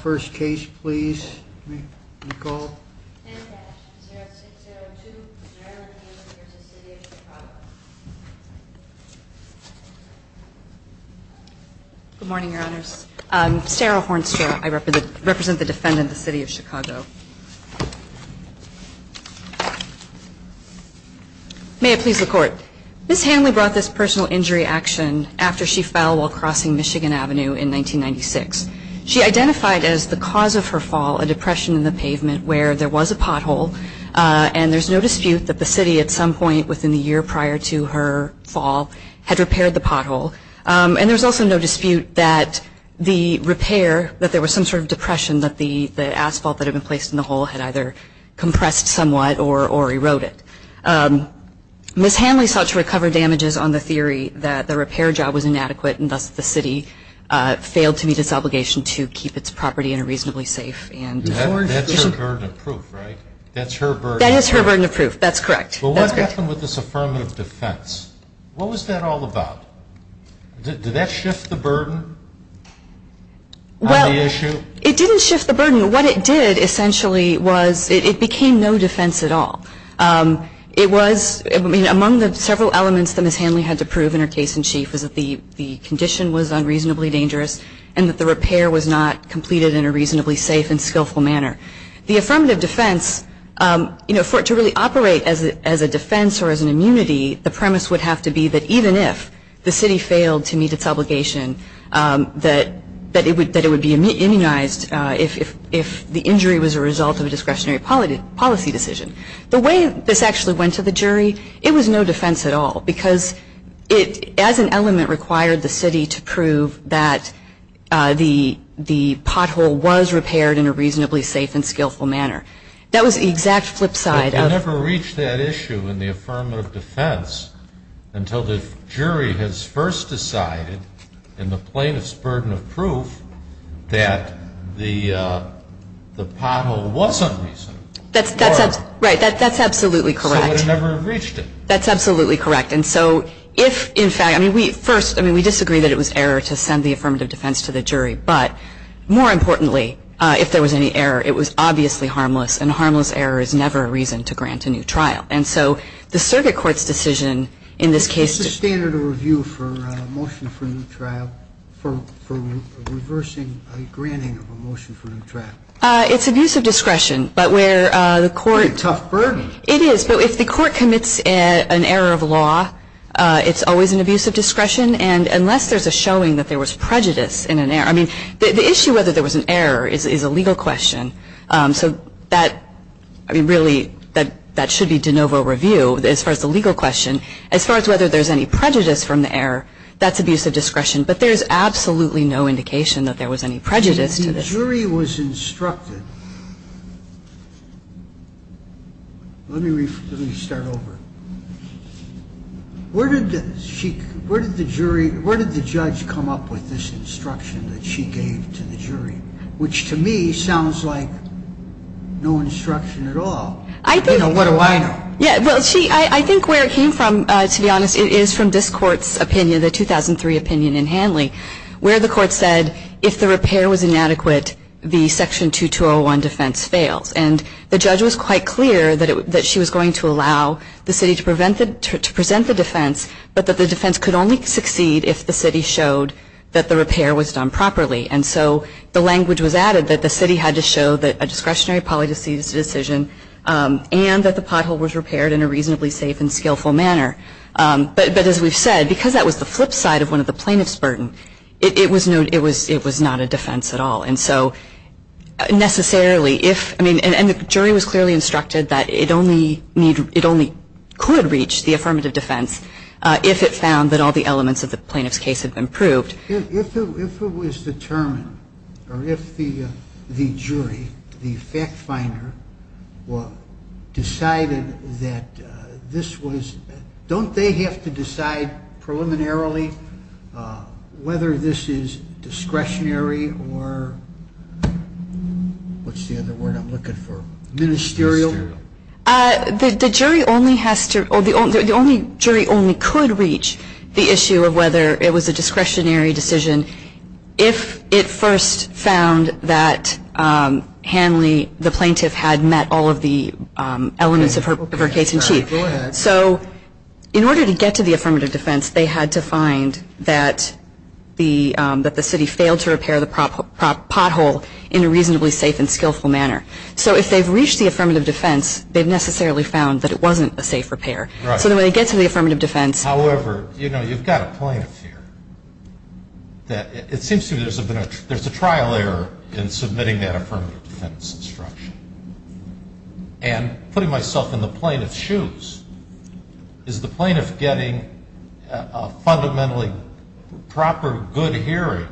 First case please, Nicole. Good morning, your honors. I'm Sarah Hornstra. I represent the defendant, the City of Chicago. May it please the court. Ms. Hanley brought this personal injury action after she fell while crossing Michigan Avenue in 1996. She identified as the cause of her fall a depression in the pavement where there was a pothole, and there's no dispute that the city at some point within the year prior to her fall had repaired the pothole. And there's also no dispute that the repair, that there was some sort of depression, that the asphalt that had been placed in the hole had either compressed somewhat or eroded. Ms. Hanley sought to recover damages on the theory that the repair job was inadequate and thus the city failed to meet its obligation to keep its property in a reasonably safe and That's her burden of proof, right? That's her burden of proof. That is her burden of proof. That's correct. Well, what happened with this affirmative defense? What was that all about? Did that shift the burden on the issue? Well, it didn't shift the burden. What it did essentially was, it became no defense at all. It was, I mean, among the several elements that Ms. Hanley had to prove in her case in that the condition was unreasonably dangerous and that the repair was not completed in a reasonably safe and skillful manner. The affirmative defense, you know, for it to really operate as a defense or as an immunity, the premise would have to be that even if the city failed to meet its obligation, that it would be immunized if the injury was a result of a discretionary policy decision. The way this actually went to the jury, it was no defense at all because it, as an element, required the city to prove that the pothole was repaired in a reasonably safe and skillful manner. That was the exact flip side of... But you never reached that issue in the affirmative defense until the jury has first decided, in the plaintiff's burden of proof, that the pothole was unreasonable. That's absolutely correct. So it would have never reached it. That's absolutely correct. And so if, in fact, I mean, we first, I mean, we disagree that it was error to send the affirmative defense to the jury, but more importantly, if there was any error, it was obviously harmless, and harmless error is never a reason to grant a new trial. And so the circuit court's decision in this case... Is this a standard of review for a motion for a new trial? For reversing a granting of a motion for a new trial? It's abuse of discretion, but where the court... It's a tough burden. It is, but if the court commits an error of law, it's always an abuse of discretion, and unless there's a showing that there was prejudice in an error... I mean, the issue whether there was an error is a legal question. I mean, really, that should be de novo review as far as the legal question. As far as whether there's any prejudice from the error, that's abuse of discretion, but there's absolutely no indication that there was any prejudice to this. The jury was instructed... Let me start over. Where did the judge come up with this instruction that she gave to the jury? Which to me sounds like no instruction at all. I think... You know, what do I know? Yeah, well, I think where it came from, to be honest, it is from this court's opinion, the 2003 opinion in Hanley, where the court said, if the repair was inadequate, the section 2201 defense fails, and the judge was quite clear that she was going to allow the city to present the defense, but that the defense could only succeed if the city showed that the repair was done properly, and so the language was added that the city had to show that a discretionary polydisease decision and that the pothole was repaired in a reasonably safe and skillful manner. But as we've said, because that was the flip side of one of the plaintiff's burden, it was not a defense at all, and so necessarily, if... I mean, and the jury was clearly instructed that it only could reach the affirmative defense if it found that all the elements of the plaintiff's case had been proved. If it was determined, or if the jury, the fact finder, decided that this was... Don't they have to decide preliminarily whether this is discretionary or... What's the other word I'm looking for? Ministerial? The jury only has to... The only jury only could reach the issue of whether it was a discretionary decision if it first found that Hanley, the plaintiff, had met all of the elements of her case in chief. So in order to get to the affirmative defense, they had to find that the city failed to repair the pothole in a reasonably safe and skillful manner. So if they've reached the affirmative defense, they've necessarily found that it wasn't a safe repair. So the way they get to the affirmative defense... However, you know, you've got a plaintiff here that... It seems to me there's a trial error in submitting that affirmative defense instruction. And putting myself in the plaintiff's shoes, is the plaintiff getting a fundamentally proper, good hearing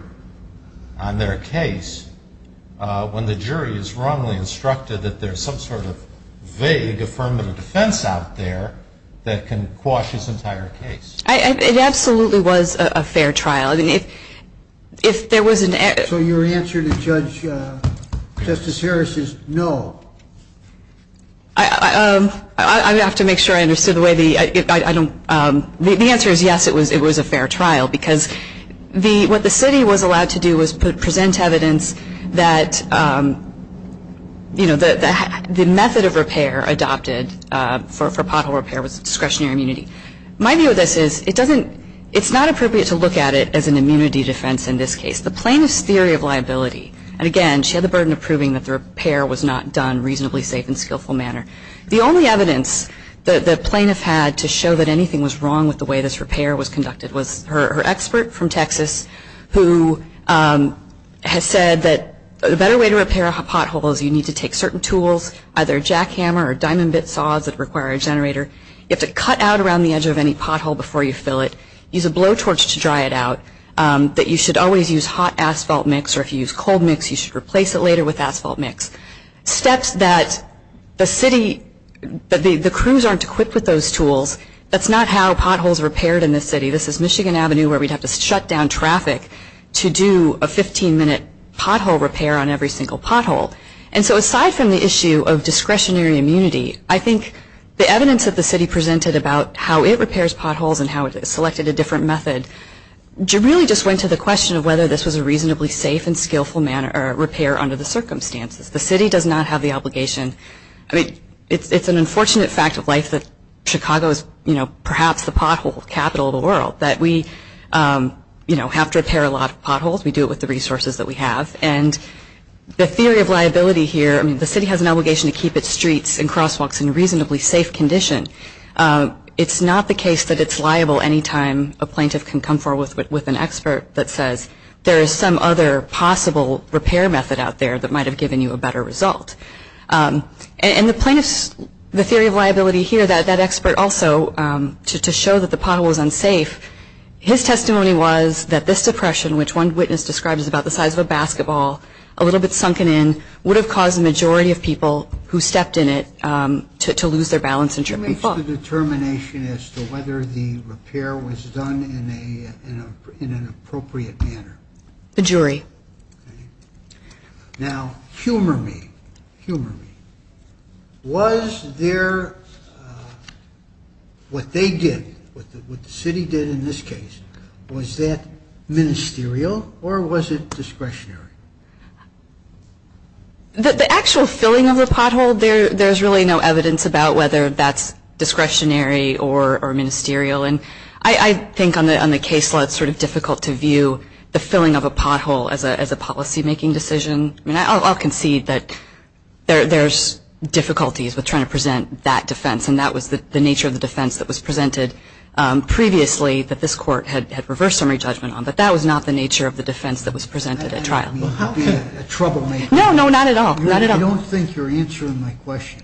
on their case when the jury is wrongly instructed that there's some sort of vague affirmative defense out there that can quash his entire case? It absolutely was a fair trial. If there was an error... So your answer to Judge... No. I would have to make sure I understood the way the... The answer is yes, it was a fair trial because what the city was allowed to do was present evidence that the method of repair adopted for pothole repair was discretionary immunity. My view of this is it doesn't... It's not appropriate to look at it as an immunity defense in this case. The plaintiff's theory of liability... Repair was not done reasonably safe and skillful manner. The only evidence that the plaintiff had to show that anything was wrong with the way this repair was conducted was her expert from Texas who has said that the better way to repair a pothole is you need to take certain tools, either a jackhammer or diamond bit saws that require a generator. You have to cut out around the edge of any pothole before you fill it. Use a blowtorch to dry it out. That you should always use hot asphalt mix, or if you use cold mix, you should replace it later with asphalt mix. Steps that the city... The crews aren't equipped with those tools. That's not how potholes are repaired in this city. This is Michigan Avenue where we'd have to shut down traffic to do a 15-minute pothole repair on every single pothole. And so aside from the issue of discretionary immunity, I think the evidence that the city presented about how it repairs potholes and how it selected a different method really just went to the question of whether this was a reasonably safe and skillful repair under the circumstances. The city does not have the obligation... I mean, it's an unfortunate fact of life that Chicago is, you know, perhaps the pothole capital of the world, that we, you know, have to repair a lot of potholes. We do it with the resources that we have. And the theory of liability here... I mean, the city has an obligation to keep its streets and crosswalks in a reasonably safe condition. It's not the case that it's liable anytime a plaintiff can come forward with an expert that says, there is some other possible repair method out there that might have given you a better result. And the theory of liability here, that expert also, to show that the pothole was unsafe, his testimony was that this depression, which one witness described as about the size of a basketball, a little bit sunken in, would have caused the majority of people who stepped in it to lose their balance and trip and fall. Who makes the determination as to whether the repair was done in an appropriate manner? The jury. Now, humor me, humor me. Was there... What they did, what the city did in this case, was that ministerial or was it discretionary? The actual filling of the pothole, there's really no evidence about whether that's discretionary or ministerial. And I think on the case law, it's sort of difficult to view the filling of a pothole as a policymaking decision. I mean, I'll concede that there's difficulties with trying to present that defense, and that was the nature of the defense that was presented previously that this court had reversed summary judgment on. But that was not the nature of the defense that was presented at trial. No, no, not at all. I don't think you're answering my question.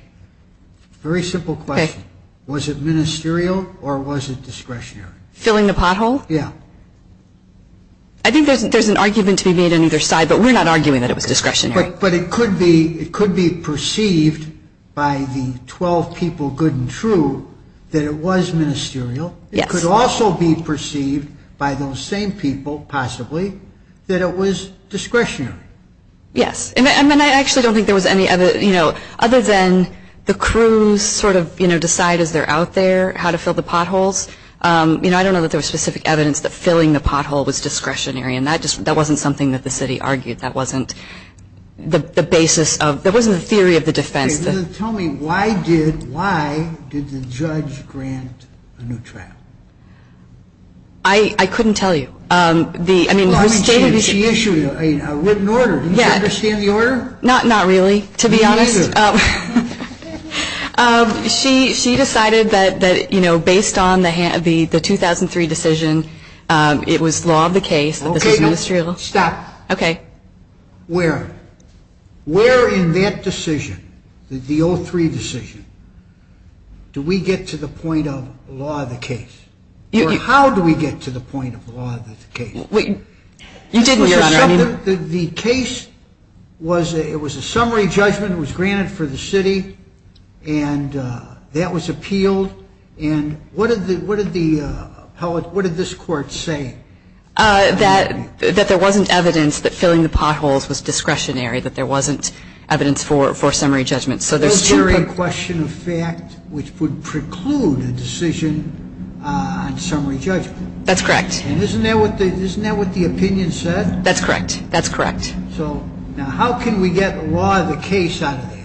Very simple question. Was it ministerial or was it discretionary? Filling the pothole? Yeah. I think there's an argument to be made on either side, but we're not arguing that it was discretionary. But it could be perceived by the 12 people, good and true, that it was ministerial. It could also be perceived by those same people, possibly, that it was discretionary. Yes. And I actually don't think there was any other, you know, other than the crews sort of decide as they're out there how to fill the potholes. You know, I don't know that there was specific evidence that filling the pothole was discretionary, and that wasn't something that the city argued. That wasn't the basis of the theory of the defense. Tell me, why did the judge grant a new trial? I couldn't tell you. She issued a written order. Didn't she understand the order? Not really, to be honest. Me neither. She decided that, you know, based on the 2003 decision, it was law of the case. Okay, stop. Okay. Where? Where in that decision, the 2003 decision, do we get to the point of law of the case? Or how do we get to the point of law of the case? You didn't, Your Honor. The case was a summary judgment. It was granted for the city, and that was appealed. And what did this court say? That there wasn't evidence that filling the potholes was discretionary, that there wasn't evidence for summary judgment. So there's two. A question of fact, which would preclude a decision on summary judgment. That's correct. And isn't that what the opinion said? That's correct. That's correct. So now how can we get law of the case out of that?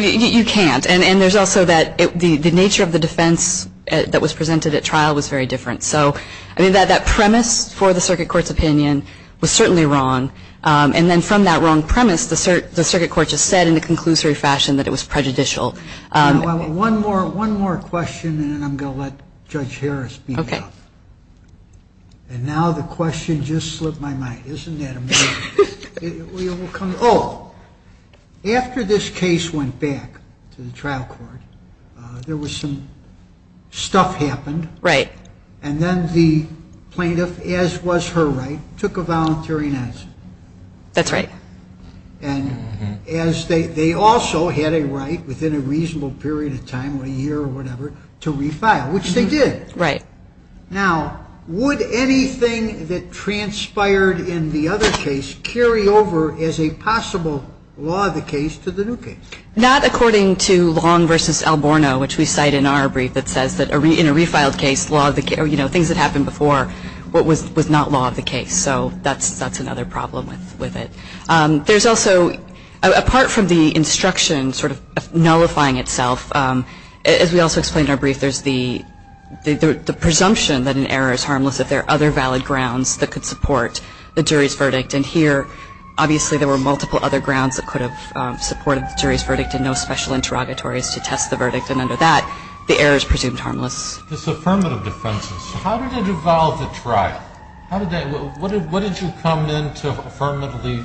You can't. And there's also that the nature of the defense that was presented at trial was very different. So, I mean, that premise for the circuit court's opinion was certainly wrong. And then from that wrong premise, the circuit court just said in a conclusory fashion that it was prejudicial. One more question, and then I'm going to let Judge Harris speak up. Okay. And now the question just slipped my mind. Isn't that amazing? Oh, after this case went back to the trial court, there was some stuff happened. Right. And then the plaintiff, as was her right, took a voluntary notice. That's right. And they also had a right within a reasonable period of time, a year or whatever, to refile, which they did. Right. Now, would anything that transpired in the other case carry over as a possible law of the case to the new case? Not according to Long v. Alborno, which we cite in our brief that says that in a refiled case, things that happened before was not law of the case. So that's another problem with it. There's also, apart from the instruction sort of nullifying itself, as we also explained in our brief, there's the presumption that an error is harmless if there are other valid grounds that could support the jury's verdict. And here, obviously, there were multiple other grounds that could have supported the jury's verdict and no special interrogatories to test the verdict. And under that, the error is presumed harmless. This affirmative defense, how did it evolve at trial? What did you come in to affirmatively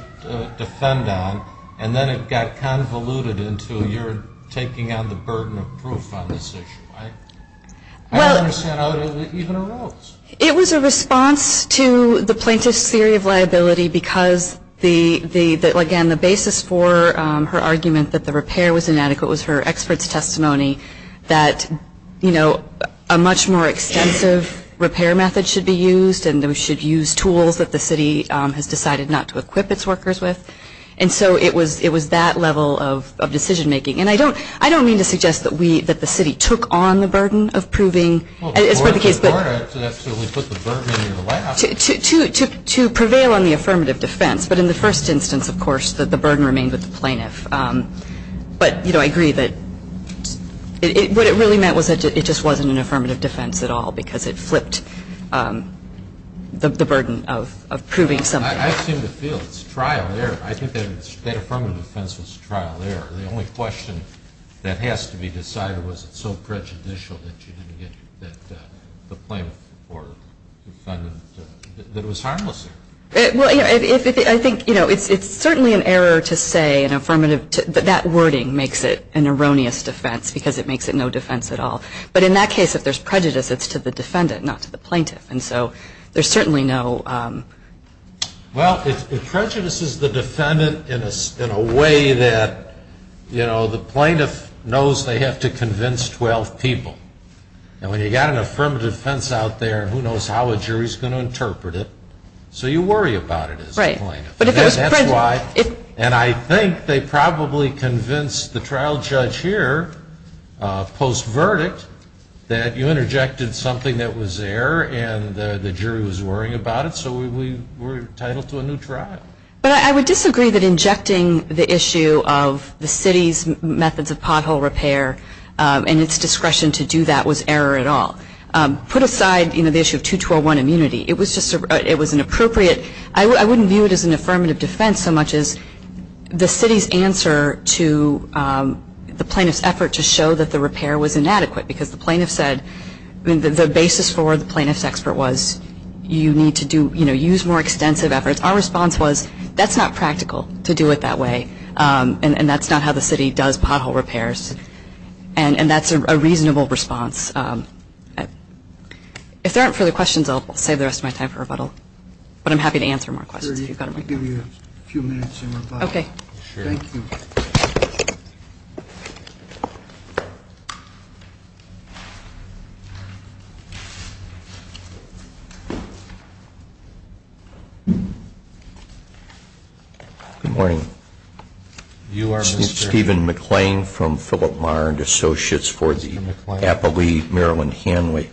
defend on, and then it got convoluted into you're taking on the burden of proof on this issue? I don't understand how it even arose. It was a response to the plaintiff's theory of liability because, again, the basis for her argument that the repair was inadequate was her expert's testimony that, you know, a much more extensive repair method should be used and that we should use tools that the city has decided not to equip its workers with. And so it was that level of decision making. And I don't mean to suggest that we, that the city took on the burden of proving. It's part of the case. Well, Gorda absolutely put the burden in your lap. To prevail on the affirmative defense. But in the first instance, of course, the burden remained with the plaintiff. But, you know, I agree that what it really meant was that it just wasn't an affirmative defense at all because it flipped the burden of proving something. I seem to feel it's trial there. I think that affirmative defense was trial there. The only question that has to be decided was it so prejudicial that you didn't get the plaintiff or defendant that it was harmless there. Well, I think, you know, it's certainly an error to say an affirmative, but that wording makes it an erroneous defense because it makes it no defense at all. But in that case, if there's prejudice, it's to the defendant, not to the plaintiff. And so there's certainly no... You know, the plaintiff knows they have to convince 12 people. And when you've got an affirmative defense out there, who knows how a jury is going to interpret it. So you worry about it as a plaintiff. And that's why... And I think they probably convinced the trial judge here, post-verdict, that you interjected something that was there and the jury was worrying about it, so we're entitled to a new trial. But I would disagree that injecting the issue of the city's methods of pothole repair and its discretion to do that was error at all. Put aside, you know, the issue of 2201 immunity, it was an appropriate... I wouldn't view it as an affirmative defense so much as the city's answer to the plaintiff's effort to show that the repair was inadequate because the plaintiff said... I mean, the basis for the plaintiff's expert was you need to do, you know, use more extensive efforts. Our response was that's not practical to do it that way. And that's not how the city does pothole repairs. And that's a reasonable response. If there aren't further questions, I'll save the rest of my time for rebuttal. But I'm happy to answer more questions if you've got them. I'd like to give you a few minutes in rebuttal. Okay. Thank you. Good morning. You are Mr.... Stephen McClain from Philip Marr and Associates for the Appalachee-Maryland Hanway.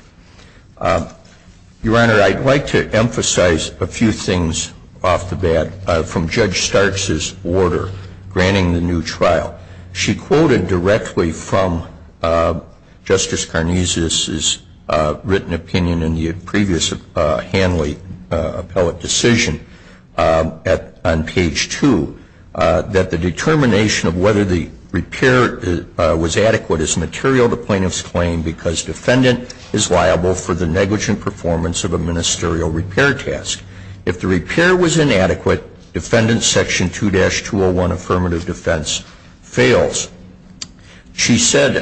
Your Honor, I'd like to emphasize a few things off the bat from Judge Starks' order granting the new trial. She quoted directly from Justice Carnesius' written opinion in the previous Hanley appellate decision on page 2 that the determination of whether the repair was adequate is material to the plaintiff's claim because defendant is liable for the negligent performance of a ministerial repair task. If the repair was inadequate, defendant's Section 2-201 affirmative defense fails. She said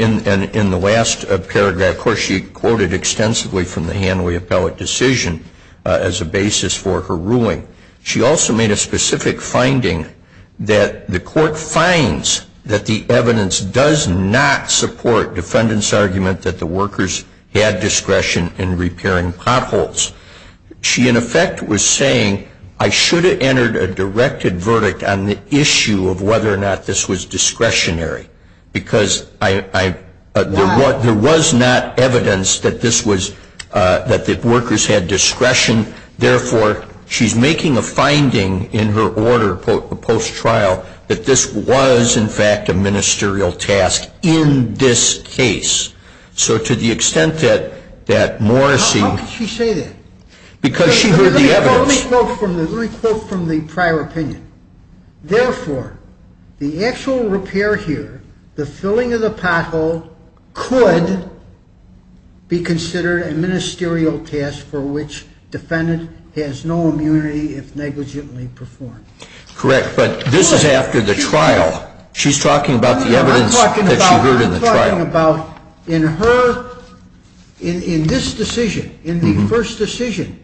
in the last paragraph, of course, she quoted extensively from the Hanley appellate decision as a basis for her ruling. She also made a specific finding that the court finds that the evidence does not support defendant's argument that the workers had discretion in repairing potholes. She, in effect, was saying I should have entered a directed verdict on the issue of whether or not this was discretionary because there was not evidence that the workers had discretion. Therefore, she's making a finding in her order post-trial that this was, in fact, a ministerial task in this case. So to the extent that Morrissey... How could she say that? Because she heard the evidence. Let me quote from the prior opinion. Therefore, the actual repair here, the filling of the pothole, could be considered a ministerial task for which defendant has no immunity if negligently performed. Correct, but this is after the trial. She's talking about the evidence that she heard in the trial. I'm talking about in her... In this decision, in the first decision,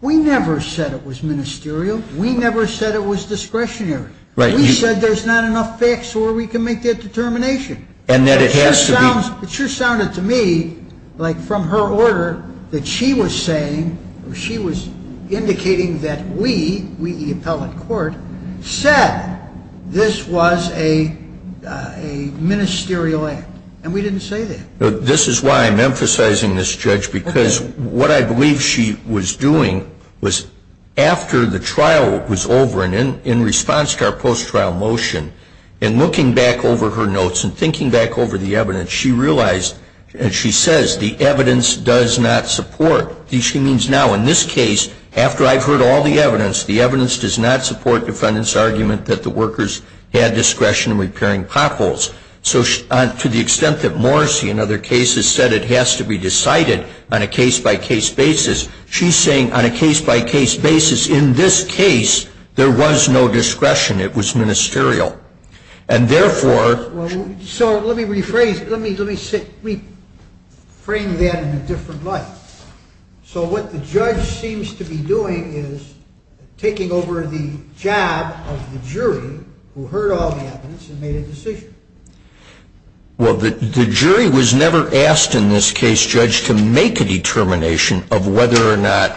we never said it was ministerial. We never said it was discretionary. We said there's not enough facts where we can make that determination. And that it has to be... It sure sounded to me like from her order that she was saying or she was indicating that we, we, the appellate court, said this was a ministerial act, and we didn't say that. This is why I'm emphasizing this, Judge, because what I believe she was doing was after the trial was over and in response to our post-trial motion and looking back over her notes and thinking back over the evidence, she realized, and she says, the evidence does not support... She means now, in this case, after I've heard all the evidence, the evidence does not support defendant's argument that the workers had discretion in repairing potholes. So to the extent that Morrissey in other cases said it has to be decided on a case-by-case basis, she's saying on a case-by-case basis, in this case, there was no discretion. It was ministerial. And therefore... Well, so let me rephrase. Let me rephrase that in a different light. So what the judge seems to be doing is taking over the job of the jury who heard all the evidence and made a decision. Well, the jury was never asked in this case, Judge, to make a determination of whether or not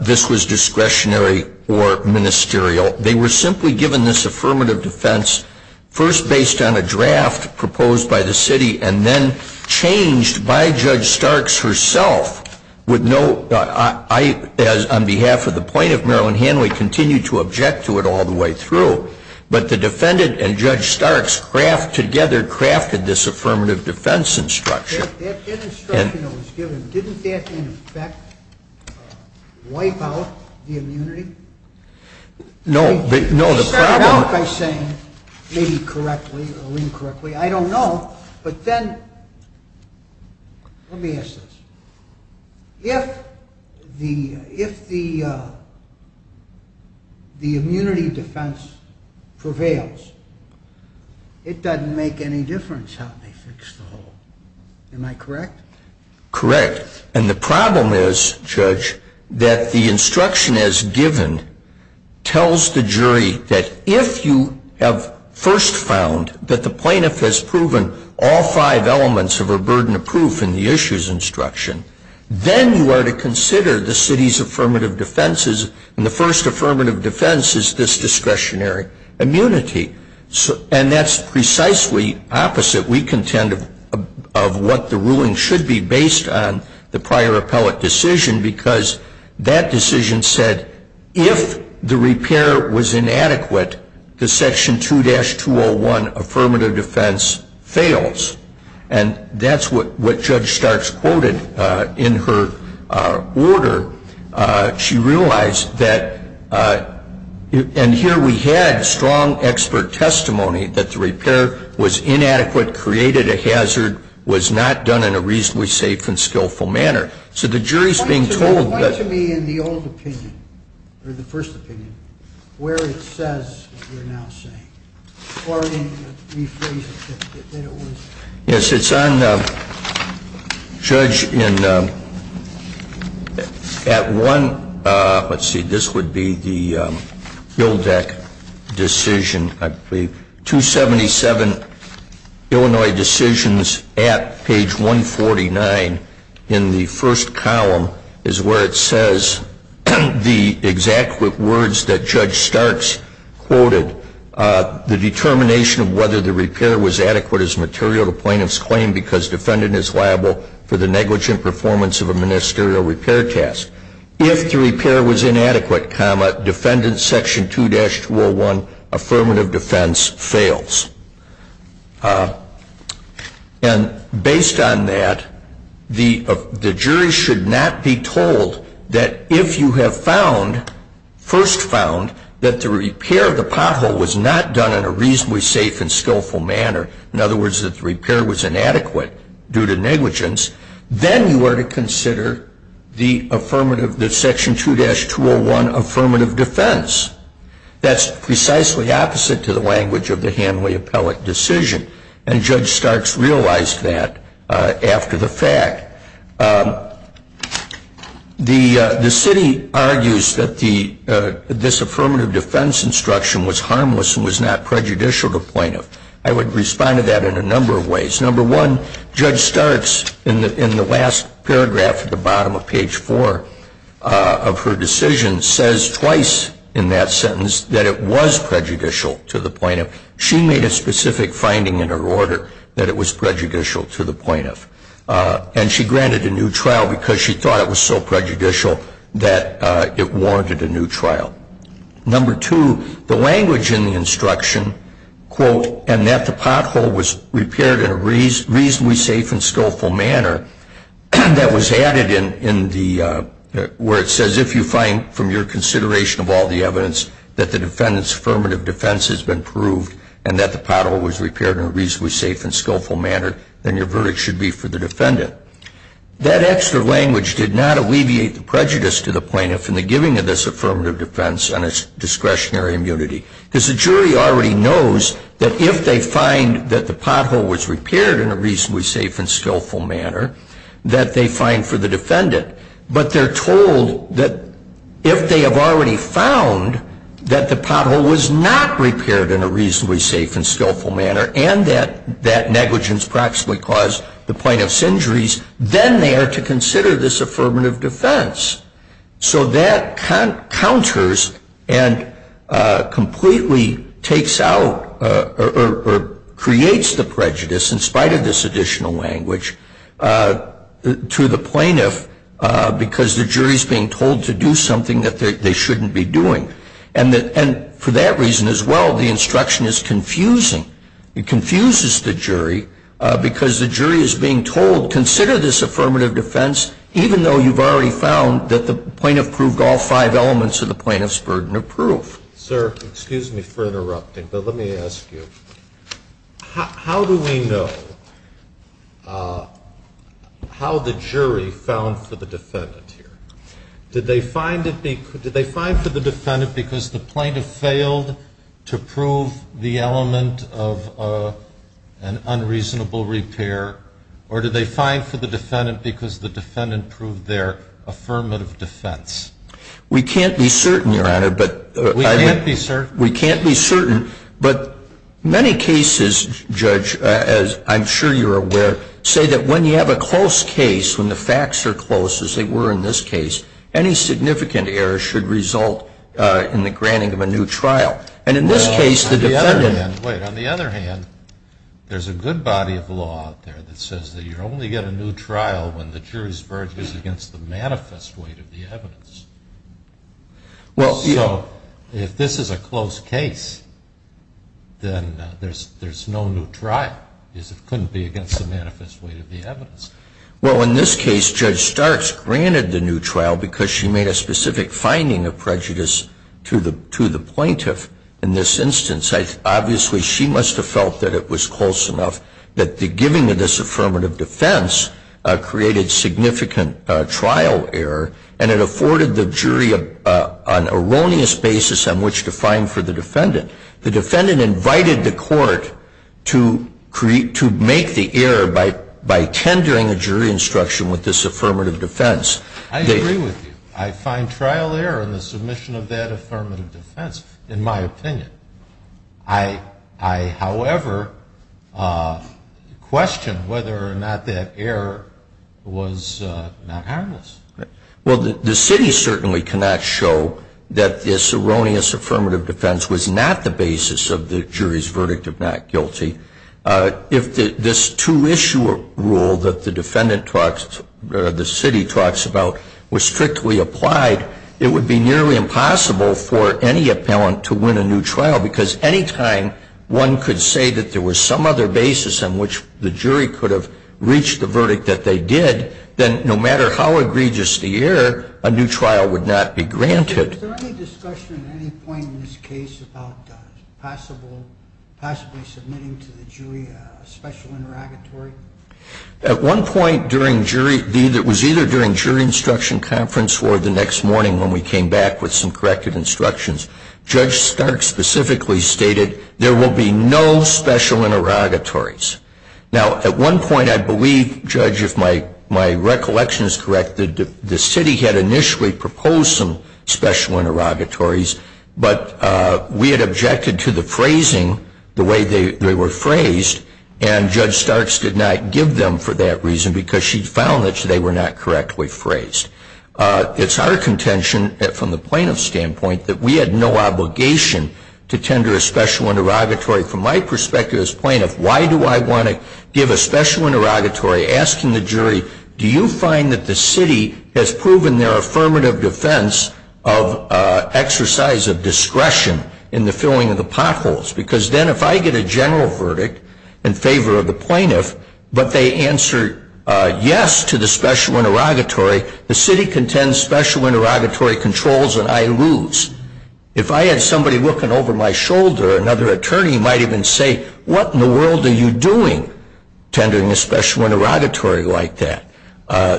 this was discretionary or ministerial. They were simply given this affirmative defense first based on a draft proposed by the city and then changed by Judge Starks herself with no... I, on behalf of the plaintiff, Marilyn Hanley, continue to object to it all the way through. But the defendant and Judge Starks together crafted this affirmative defense instruction. That instruction that was given, didn't that, in effect, wipe out the immunity? No. They started out by saying, maybe correctly or incorrectly, I don't know. But then... Let me ask this. If the immunity defense prevails, it doesn't make any difference how they fix the hole. Am I correct? Correct. And the problem is, Judge, that the instruction as given tells the jury that if you have first found that the plaintiff has proven all five elements of her burden of proof in the issues instruction, then you are to consider the city's affirmative defenses, and the first affirmative defense is this discretionary immunity. And that's precisely opposite, we contend, of what the ruling should be based on the prior appellate decision because that decision said, if the repair was inadequate, the Section 2-201 affirmative defense fails. And that's what Judge Starks quoted in her order. She realized that, and here we had strong expert testimony that the repair was inadequate, created a hazard, was not done in a reasonably safe and skillful manner. So the jury is being told that... Point to me in the old opinion, or the first opinion, where it says what you're now saying. Or in rephrasing it, that it was... Yes, it's on, Judge, in at one... Let's see, this would be the Buildeck decision, I believe. 277 Illinois decisions at page 149 in the first column is where it says the exact words that Judge Starks quoted. The determination of whether the repair was adequate is material to plaintiff's claim because defendant is liable for the negligent performance of a ministerial repair task. If the repair was inadequate, defendant's Section 2-201 affirmative defense fails. And based on that, the jury should not be told that if you have found, first found, that the repair of the pothole was not done in a reasonably safe and skillful manner, in other words, that the repair was inadequate due to negligence, then you are to consider the affirmative, the Section 2-201 affirmative defense. That's precisely opposite to the language of the Hanley appellate decision, and Judge Starks realized that after the fact. The city argues that this affirmative defense instruction was harmless and was not prejudicial to plaintiff. I would respond to that in a number of ways. Number one, Judge Starks, in the last paragraph at the bottom of page four of her decision, says twice in that sentence that it was prejudicial to the plaintiff. She made a specific finding in her order that it was prejudicial to the plaintiff, and she granted a new trial because she thought it was so prejudicial that it warranted a new trial. Number two, the language in the instruction, quote, and that the pothole was repaired in a reasonably safe and skillful manner, that was added where it says if you find from your consideration of all the evidence that the defendant's affirmative defense has been proved and that the pothole was repaired in a reasonably safe and skillful manner, then your verdict should be for the defendant. That extra language did not alleviate the prejudice to the plaintiff in the giving of this affirmative defense on its discretionary immunity. Because the jury already knows that if they find that the pothole was repaired in a reasonably safe and skillful manner, that they find for the defendant. But they're told that if they have already found that the pothole was not repaired in a reasonably safe and skillful manner and that negligence practically caused the plaintiff's injuries, then they are to consider this affirmative defense. So that counters and completely takes out or creates the prejudice, in spite of this additional language, to the plaintiff because the jury is being told to do something that they shouldn't be doing. It confuses the jury because the jury is being told, consider this affirmative defense even though you've already found that the plaintiff proved all five elements of the plaintiff's burden of proof. Sir, excuse me for interrupting, but let me ask you, how do we know how the jury found for the defendant here? Did they find for the defendant because the plaintiff failed to prove the element of an unreasonable repair, or did they find for the defendant because the defendant proved their affirmative defense? We can't be certain, Your Honor. We can't be certain. We can't be certain. But many cases, Judge, as I'm sure you're aware, say that when you have a close case, when the facts are close, as they were in this case, any significant error should result in the granting of a new trial. Well, on the other hand, wait, on the other hand, there's a good body of law out there that says that you only get a new trial when the jury's verdict is against the manifest weight of the evidence. So if this is a close case, then there's no new trial, because it couldn't be against the manifest weight of the evidence. Well, in this case, Judge Starks granted the new trial because she made a specific finding of prejudice to the plaintiff. In this instance, obviously, she must have felt that it was close enough that the giving of this affirmative defense created significant trial error, and it afforded the jury an erroneous basis on which to find for the defendant. The defendant invited the court to make the error by tendering a jury instruction with this affirmative defense. I agree with you. I find trial error in the submission of that affirmative defense, in my opinion. I, however, question whether or not that error was not harmless. Well, the city certainly cannot show that this erroneous affirmative defense was not the basis of the jury's verdict of not guilty. If this two-issuer rule that the defendant talks, or the city talks about, was strictly applied, it would be nearly impossible for any appellant to win a new trial, because any time one could say that there was some other basis on which the jury could have reached the verdict that they did, then no matter how egregious the error, a new trial would not be granted. Is there any discussion at any point in this case about possibly submitting to the jury a special interrogatory? At one point during jury – it was either during jury instruction conference or the next morning when we came back with some corrected instructions. Judge Stark specifically stated there will be no special interrogatories. Now, at one point, I believe, Judge, if my recollection is correct, the city had initially proposed some special interrogatories, but we had objected to the phrasing the way they were phrased, and Judge Starks did not give them for that reason, because she found that they were not correctly phrased. It's our contention, from the plaintiff's standpoint, that we had no obligation to tender a special interrogatory. From my perspective as plaintiff, why do I want to give a special interrogatory asking the jury, do you find that the city has proven their affirmative defense of exercise of discretion in the filling of the potholes? Because then if I get a general verdict in favor of the plaintiff, but they answer yes to the special interrogatory, the city contends special interrogatory controls and I lose. If I had somebody looking over my shoulder, another attorney might even say, what in the world are you doing tendering a special interrogatory like that?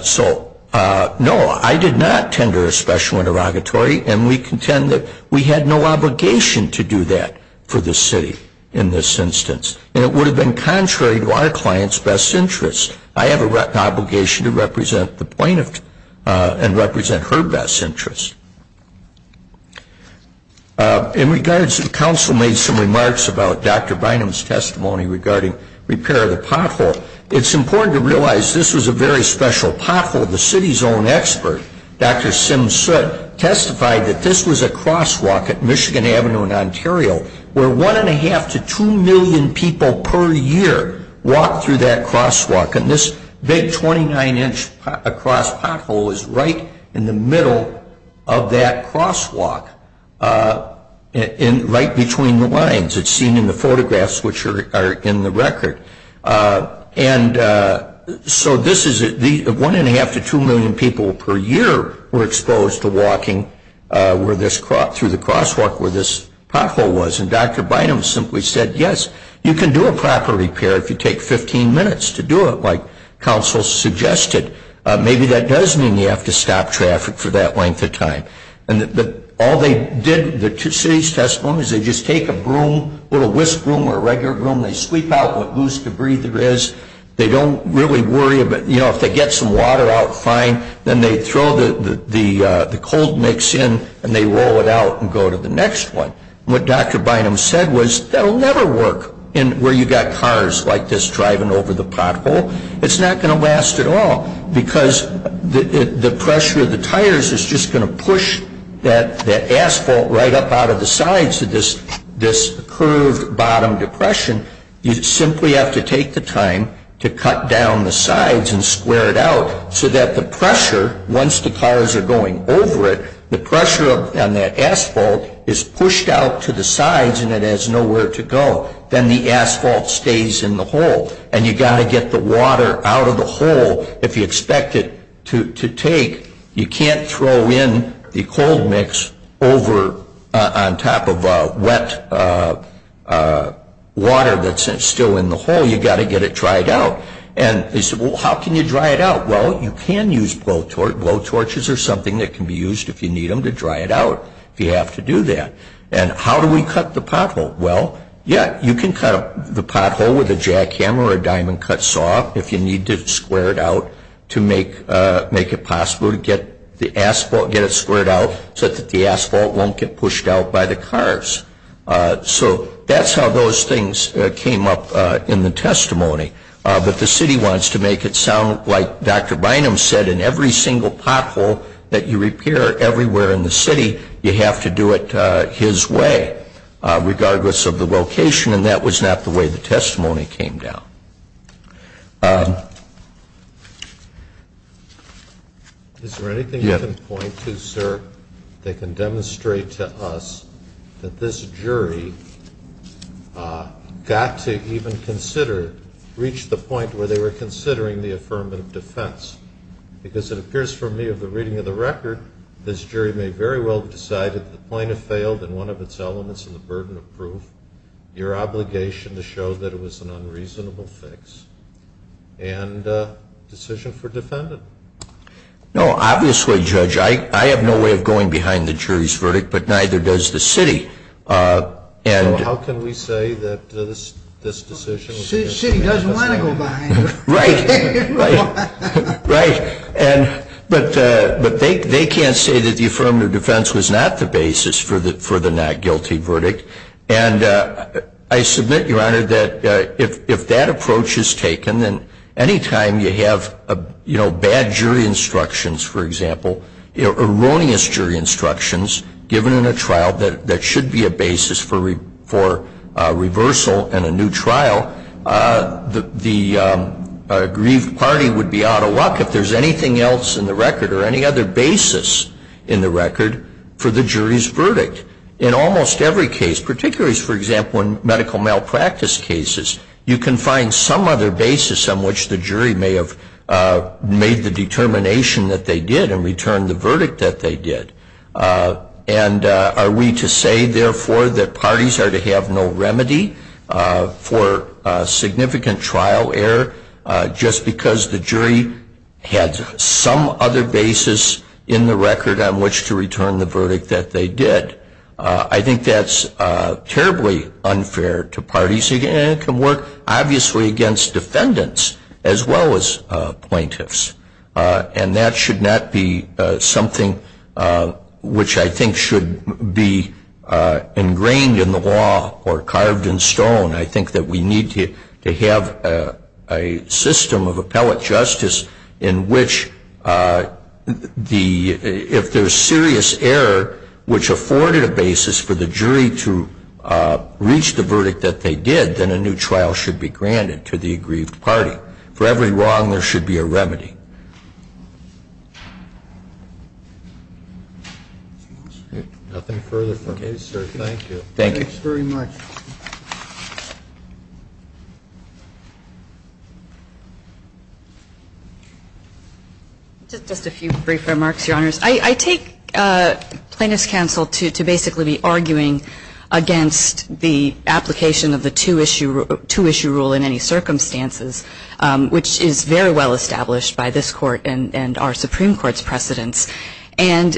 So, no, I did not tender a special interrogatory, and we contend that we had no obligation to do that for the city in this instance. And it would have been contrary to our client's best interests. I have an obligation to represent the plaintiff and represent her best interests. In regards, the council made some remarks about Dr. Bynum's testimony regarding repair of the pothole. It's important to realize this was a very special pothole. The city's own expert, Dr. Sim Sutt, testified that this was a crosswalk at Michigan Avenue in Ontario where one and a half to two million people per year walk through that crosswalk. And this big 29-inch across pothole is right in the middle of that crosswalk, right between the lines. It's seen in the photographs which are in the record. And so this is one and a half to two million people per year were exposed to walking through the crosswalk where this pothole was, and Dr. Bynum simply said, yes, you can do a proper repair if you take 15 minutes to do it like council suggested. Maybe that does mean you have to stop traffic for that length of time. And all they did, the city's testimony, is they just take a broom, a little whisk broom or a regular broom, they sweep out what loose debris there is. They don't really worry about, you know, if they get some water out, fine. Then they throw the cold mix in and they roll it out and go to the next one. What Dr. Bynum said was that will never work where you've got cars like this driving over the pothole. It's not going to last at all because the pressure of the tires is just going to push that asphalt right up out of the sides of this curved bottom depression. You simply have to take the time to cut down the sides and square it out so that the pressure, once the cars are going over it, the pressure on that asphalt is pushed out to the sides and it has nowhere to go. Then the asphalt stays in the hole. And you've got to get the water out of the hole. If you expect it to take, you can't throw in the cold mix over on top of wet water that's still in the hole. You've got to get it dried out. And they said, well, how can you dry it out? Well, you can use blowtorches or something that can be used if you need them to dry it out if you have to do that. And how do we cut the pothole? Well, yeah, you can cut the pothole with a jackhammer or a diamond cut saw if you need to square it out to make it possible to get it squared out so that the asphalt won't get pushed out by the cars. So that's how those things came up in the testimony. But the city wants to make it sound like Dr. Bynum said, in every single pothole that you repair everywhere in the city, you have to do it his way, regardless of the location. And that was not the way the testimony came down. Is there anything you can point to, sir, that can demonstrate to us that this jury got to even consider, reached the point where they were considering the affirmative defense? Because it appears for me of the reading of the record, this jury may very well have decided that the plaintiff failed in one of its elements in the burden of proof, your obligation to show that it was an unreasonable fix. And decision for defendant? No, obviously, Judge, I have no way of going behind the jury's verdict, but neither does the city. So how can we say that this decision was an unreasonable fix? The city doesn't want to go behind it. Right. Right. But they can't say that the affirmative defense was not the basis for the not guilty verdict. And I submit, your Honor, that if that approach is taken, then any time you have, you know, bad jury instructions, for example, erroneous jury instructions given in a trial that should be a basis for reversal in a new trial, the aggrieved party would be out of luck if there's anything else in the record or any other basis in the record for the jury's verdict. In almost every case, particularly, for example, in medical malpractice cases, you can find some other basis on which the jury may have made the determination that they did and returned the verdict that they did. And are we to say, therefore, that parties are to have no remedy for significant trial error just because the jury had some other basis in the record on which to return the verdict that they did? I think that's terribly unfair to parties. And it can work, obviously, against defendants as well as plaintiffs. And that should not be something which I think should be ingrained in the law or carved in stone. I think that we need to have a system of appellate justice in which the ‑‑ if there's serious error which afforded a basis for the jury to reach the verdict that they did, then a new trial should be granted to the aggrieved party. For every wrong, there should be a remedy. Nothing further from the case, sir. Thank you. Thanks very much. Just a few brief remarks, Your Honors. I take plaintiff's counsel to basically be arguing against the application of the two issue rule in any circumstances, which is very well established by this Court and our Supreme Court's precedence. And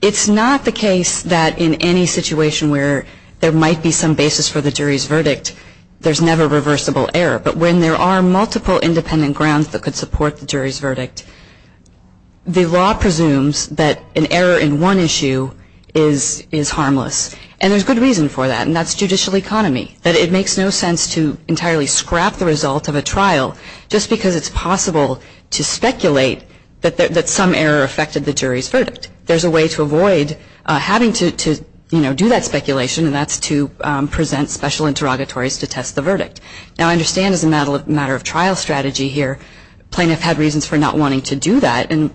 it's not the case that in any situation where there might be some basis for the jury's verdict, there's never reversible error. But when there are multiple independent grounds that could support the jury's verdict, the law presumes that an error in one issue is harmless. And there's good reason for that, and that's judicial economy, that it makes no sense to entirely scrap the result of a trial just because it's possible to speculate that some error affected the jury's verdict. There's a way to avoid having to do that speculation, and that's to present special interrogatories to test the verdict. Now, I understand as a matter of trial strategy here, plaintiff had reasons for not wanting to do that, and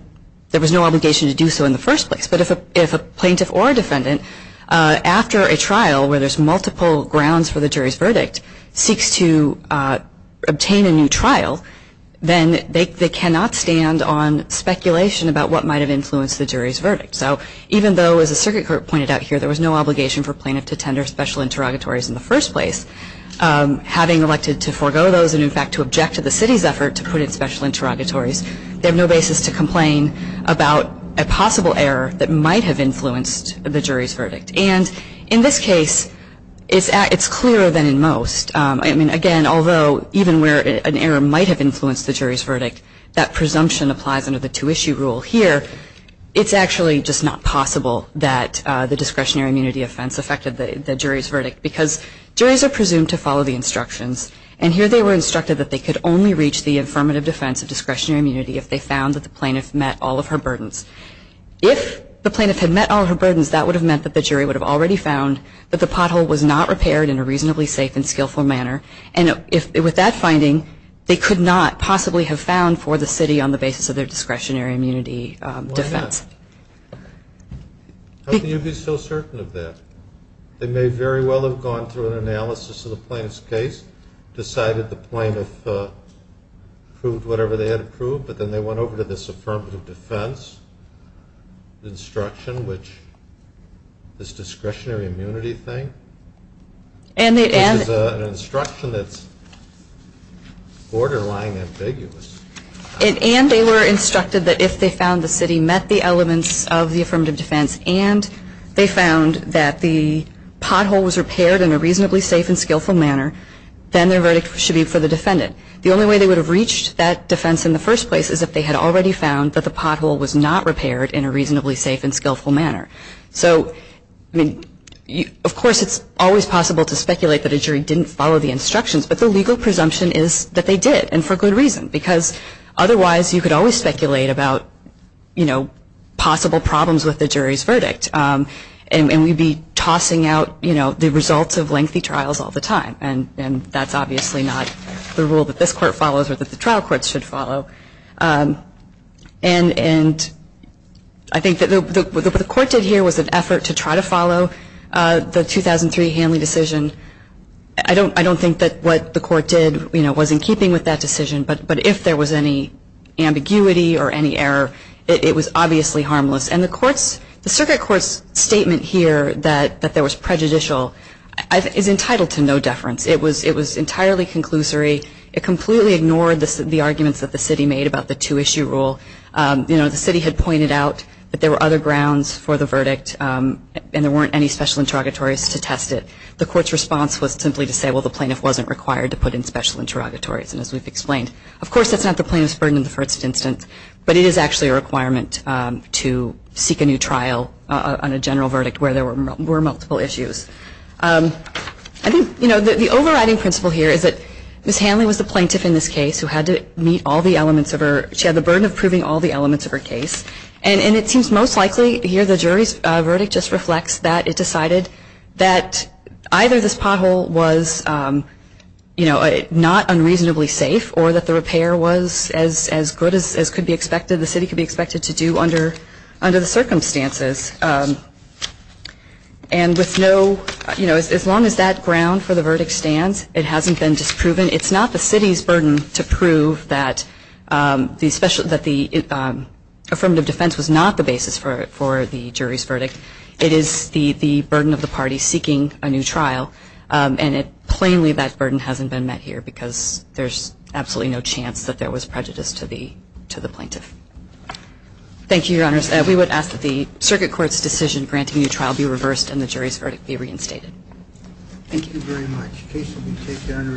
there was no obligation to do so in the first place. But if a plaintiff or a defendant, after a trial where there's multiple grounds for the jury's verdict, seeks to obtain a new trial, then they cannot stand on speculation about what might have influenced the jury's verdict. So even though, as the Circuit Court pointed out here, there was no obligation for plaintiff to tender special interrogatories in the first place, having elected to forego those and, in fact, to object to the city's effort to put in special interrogatories, they have no basis to complain about a possible error that might have influenced the jury's verdict. And in this case, it's clearer than in most. I mean, again, although even where an error might have influenced the jury's verdict, that presumption applies under the two-issue rule here. It's actually just not possible that the discretionary immunity offense affected the jury's verdict because juries are presumed to follow the instructions. And here they were instructed that they could only reach the affirmative defense of discretionary immunity if they found that the plaintiff met all of her burdens. If the plaintiff had met all of her burdens, that would have meant that the jury would have already found that the pothole was not repaired in a reasonably safe and skillful manner. And with that finding, they could not possibly have found for the city on the basis of their discretionary immunity defense. Why not? How can you be so certain of that? They may very well have gone through an analysis of the plaintiff's case, decided the plaintiff approved whatever they had approved, but then they went over to this affirmative defense instruction, which this discretionary immunity thing, which is an instruction that's borderline ambiguous. And they were instructed that if they found the city met the elements of the affirmative defense and they found that the pothole was repaired in a reasonably safe and skillful manner, then their verdict should be for the defendant. The only way they would have reached that defense in the first place is if they had already found that the pothole was not repaired in a reasonably safe and skillful manner. So, I mean, of course it's always possible to speculate that a jury didn't follow the instructions, but the legal presumption is that they did, and for good reason. Because otherwise you could always speculate about, you know, possible problems with the jury's verdict. And we'd be tossing out, you know, the results of lengthy trials all the time. And that's obviously not the rule that this court follows or that the trial courts should follow. And I think that what the court did here was an effort to try to follow the 2003 Hanley decision. I don't think that what the court did, you know, was in keeping with that decision, but if there was any ambiguity or any error, it was obviously harmless. And the circuit court's statement here that there was prejudicial is entitled to no deference. It was entirely conclusory. It completely ignored the arguments that the city made about the two-issue rule. You know, the city had pointed out that there were other grounds for the verdict and there weren't any special interrogatories to test it. The court's response was simply to say, well, the plaintiff wasn't required to put in special interrogatories, as we've explained. Of course, that's not the plaintiff's burden in the first instance, but it is actually a requirement to seek a new trial on a general verdict where there were multiple issues. I think, you know, the overriding principle here is that Ms. Hanley was the plaintiff in this case who had to meet all the elements of her, she had the burden of proving all the elements of her case. And it seems most likely here the jury's verdict just reflects that. It decided that either this pothole was, you know, not unreasonably safe or that the repair was as good as could be expected, the city could be expected to do under the circumstances. And with no, you know, as long as that ground for the verdict stands, it hasn't been disproven. It's not the city's burden to prove that the affirmative defense was not the basis for the jury's verdict. It is the burden of the party seeking a new trial. And plainly that burden hasn't been met here because there's absolutely no chance that there was prejudice to the plaintiff. Thank you, Your Honors. We would ask that the circuit court's decision granting a new trial be reversed and the jury's verdict be reinstated. Thank you very much. The case will be taken under advisement and we are in recess. Thank you.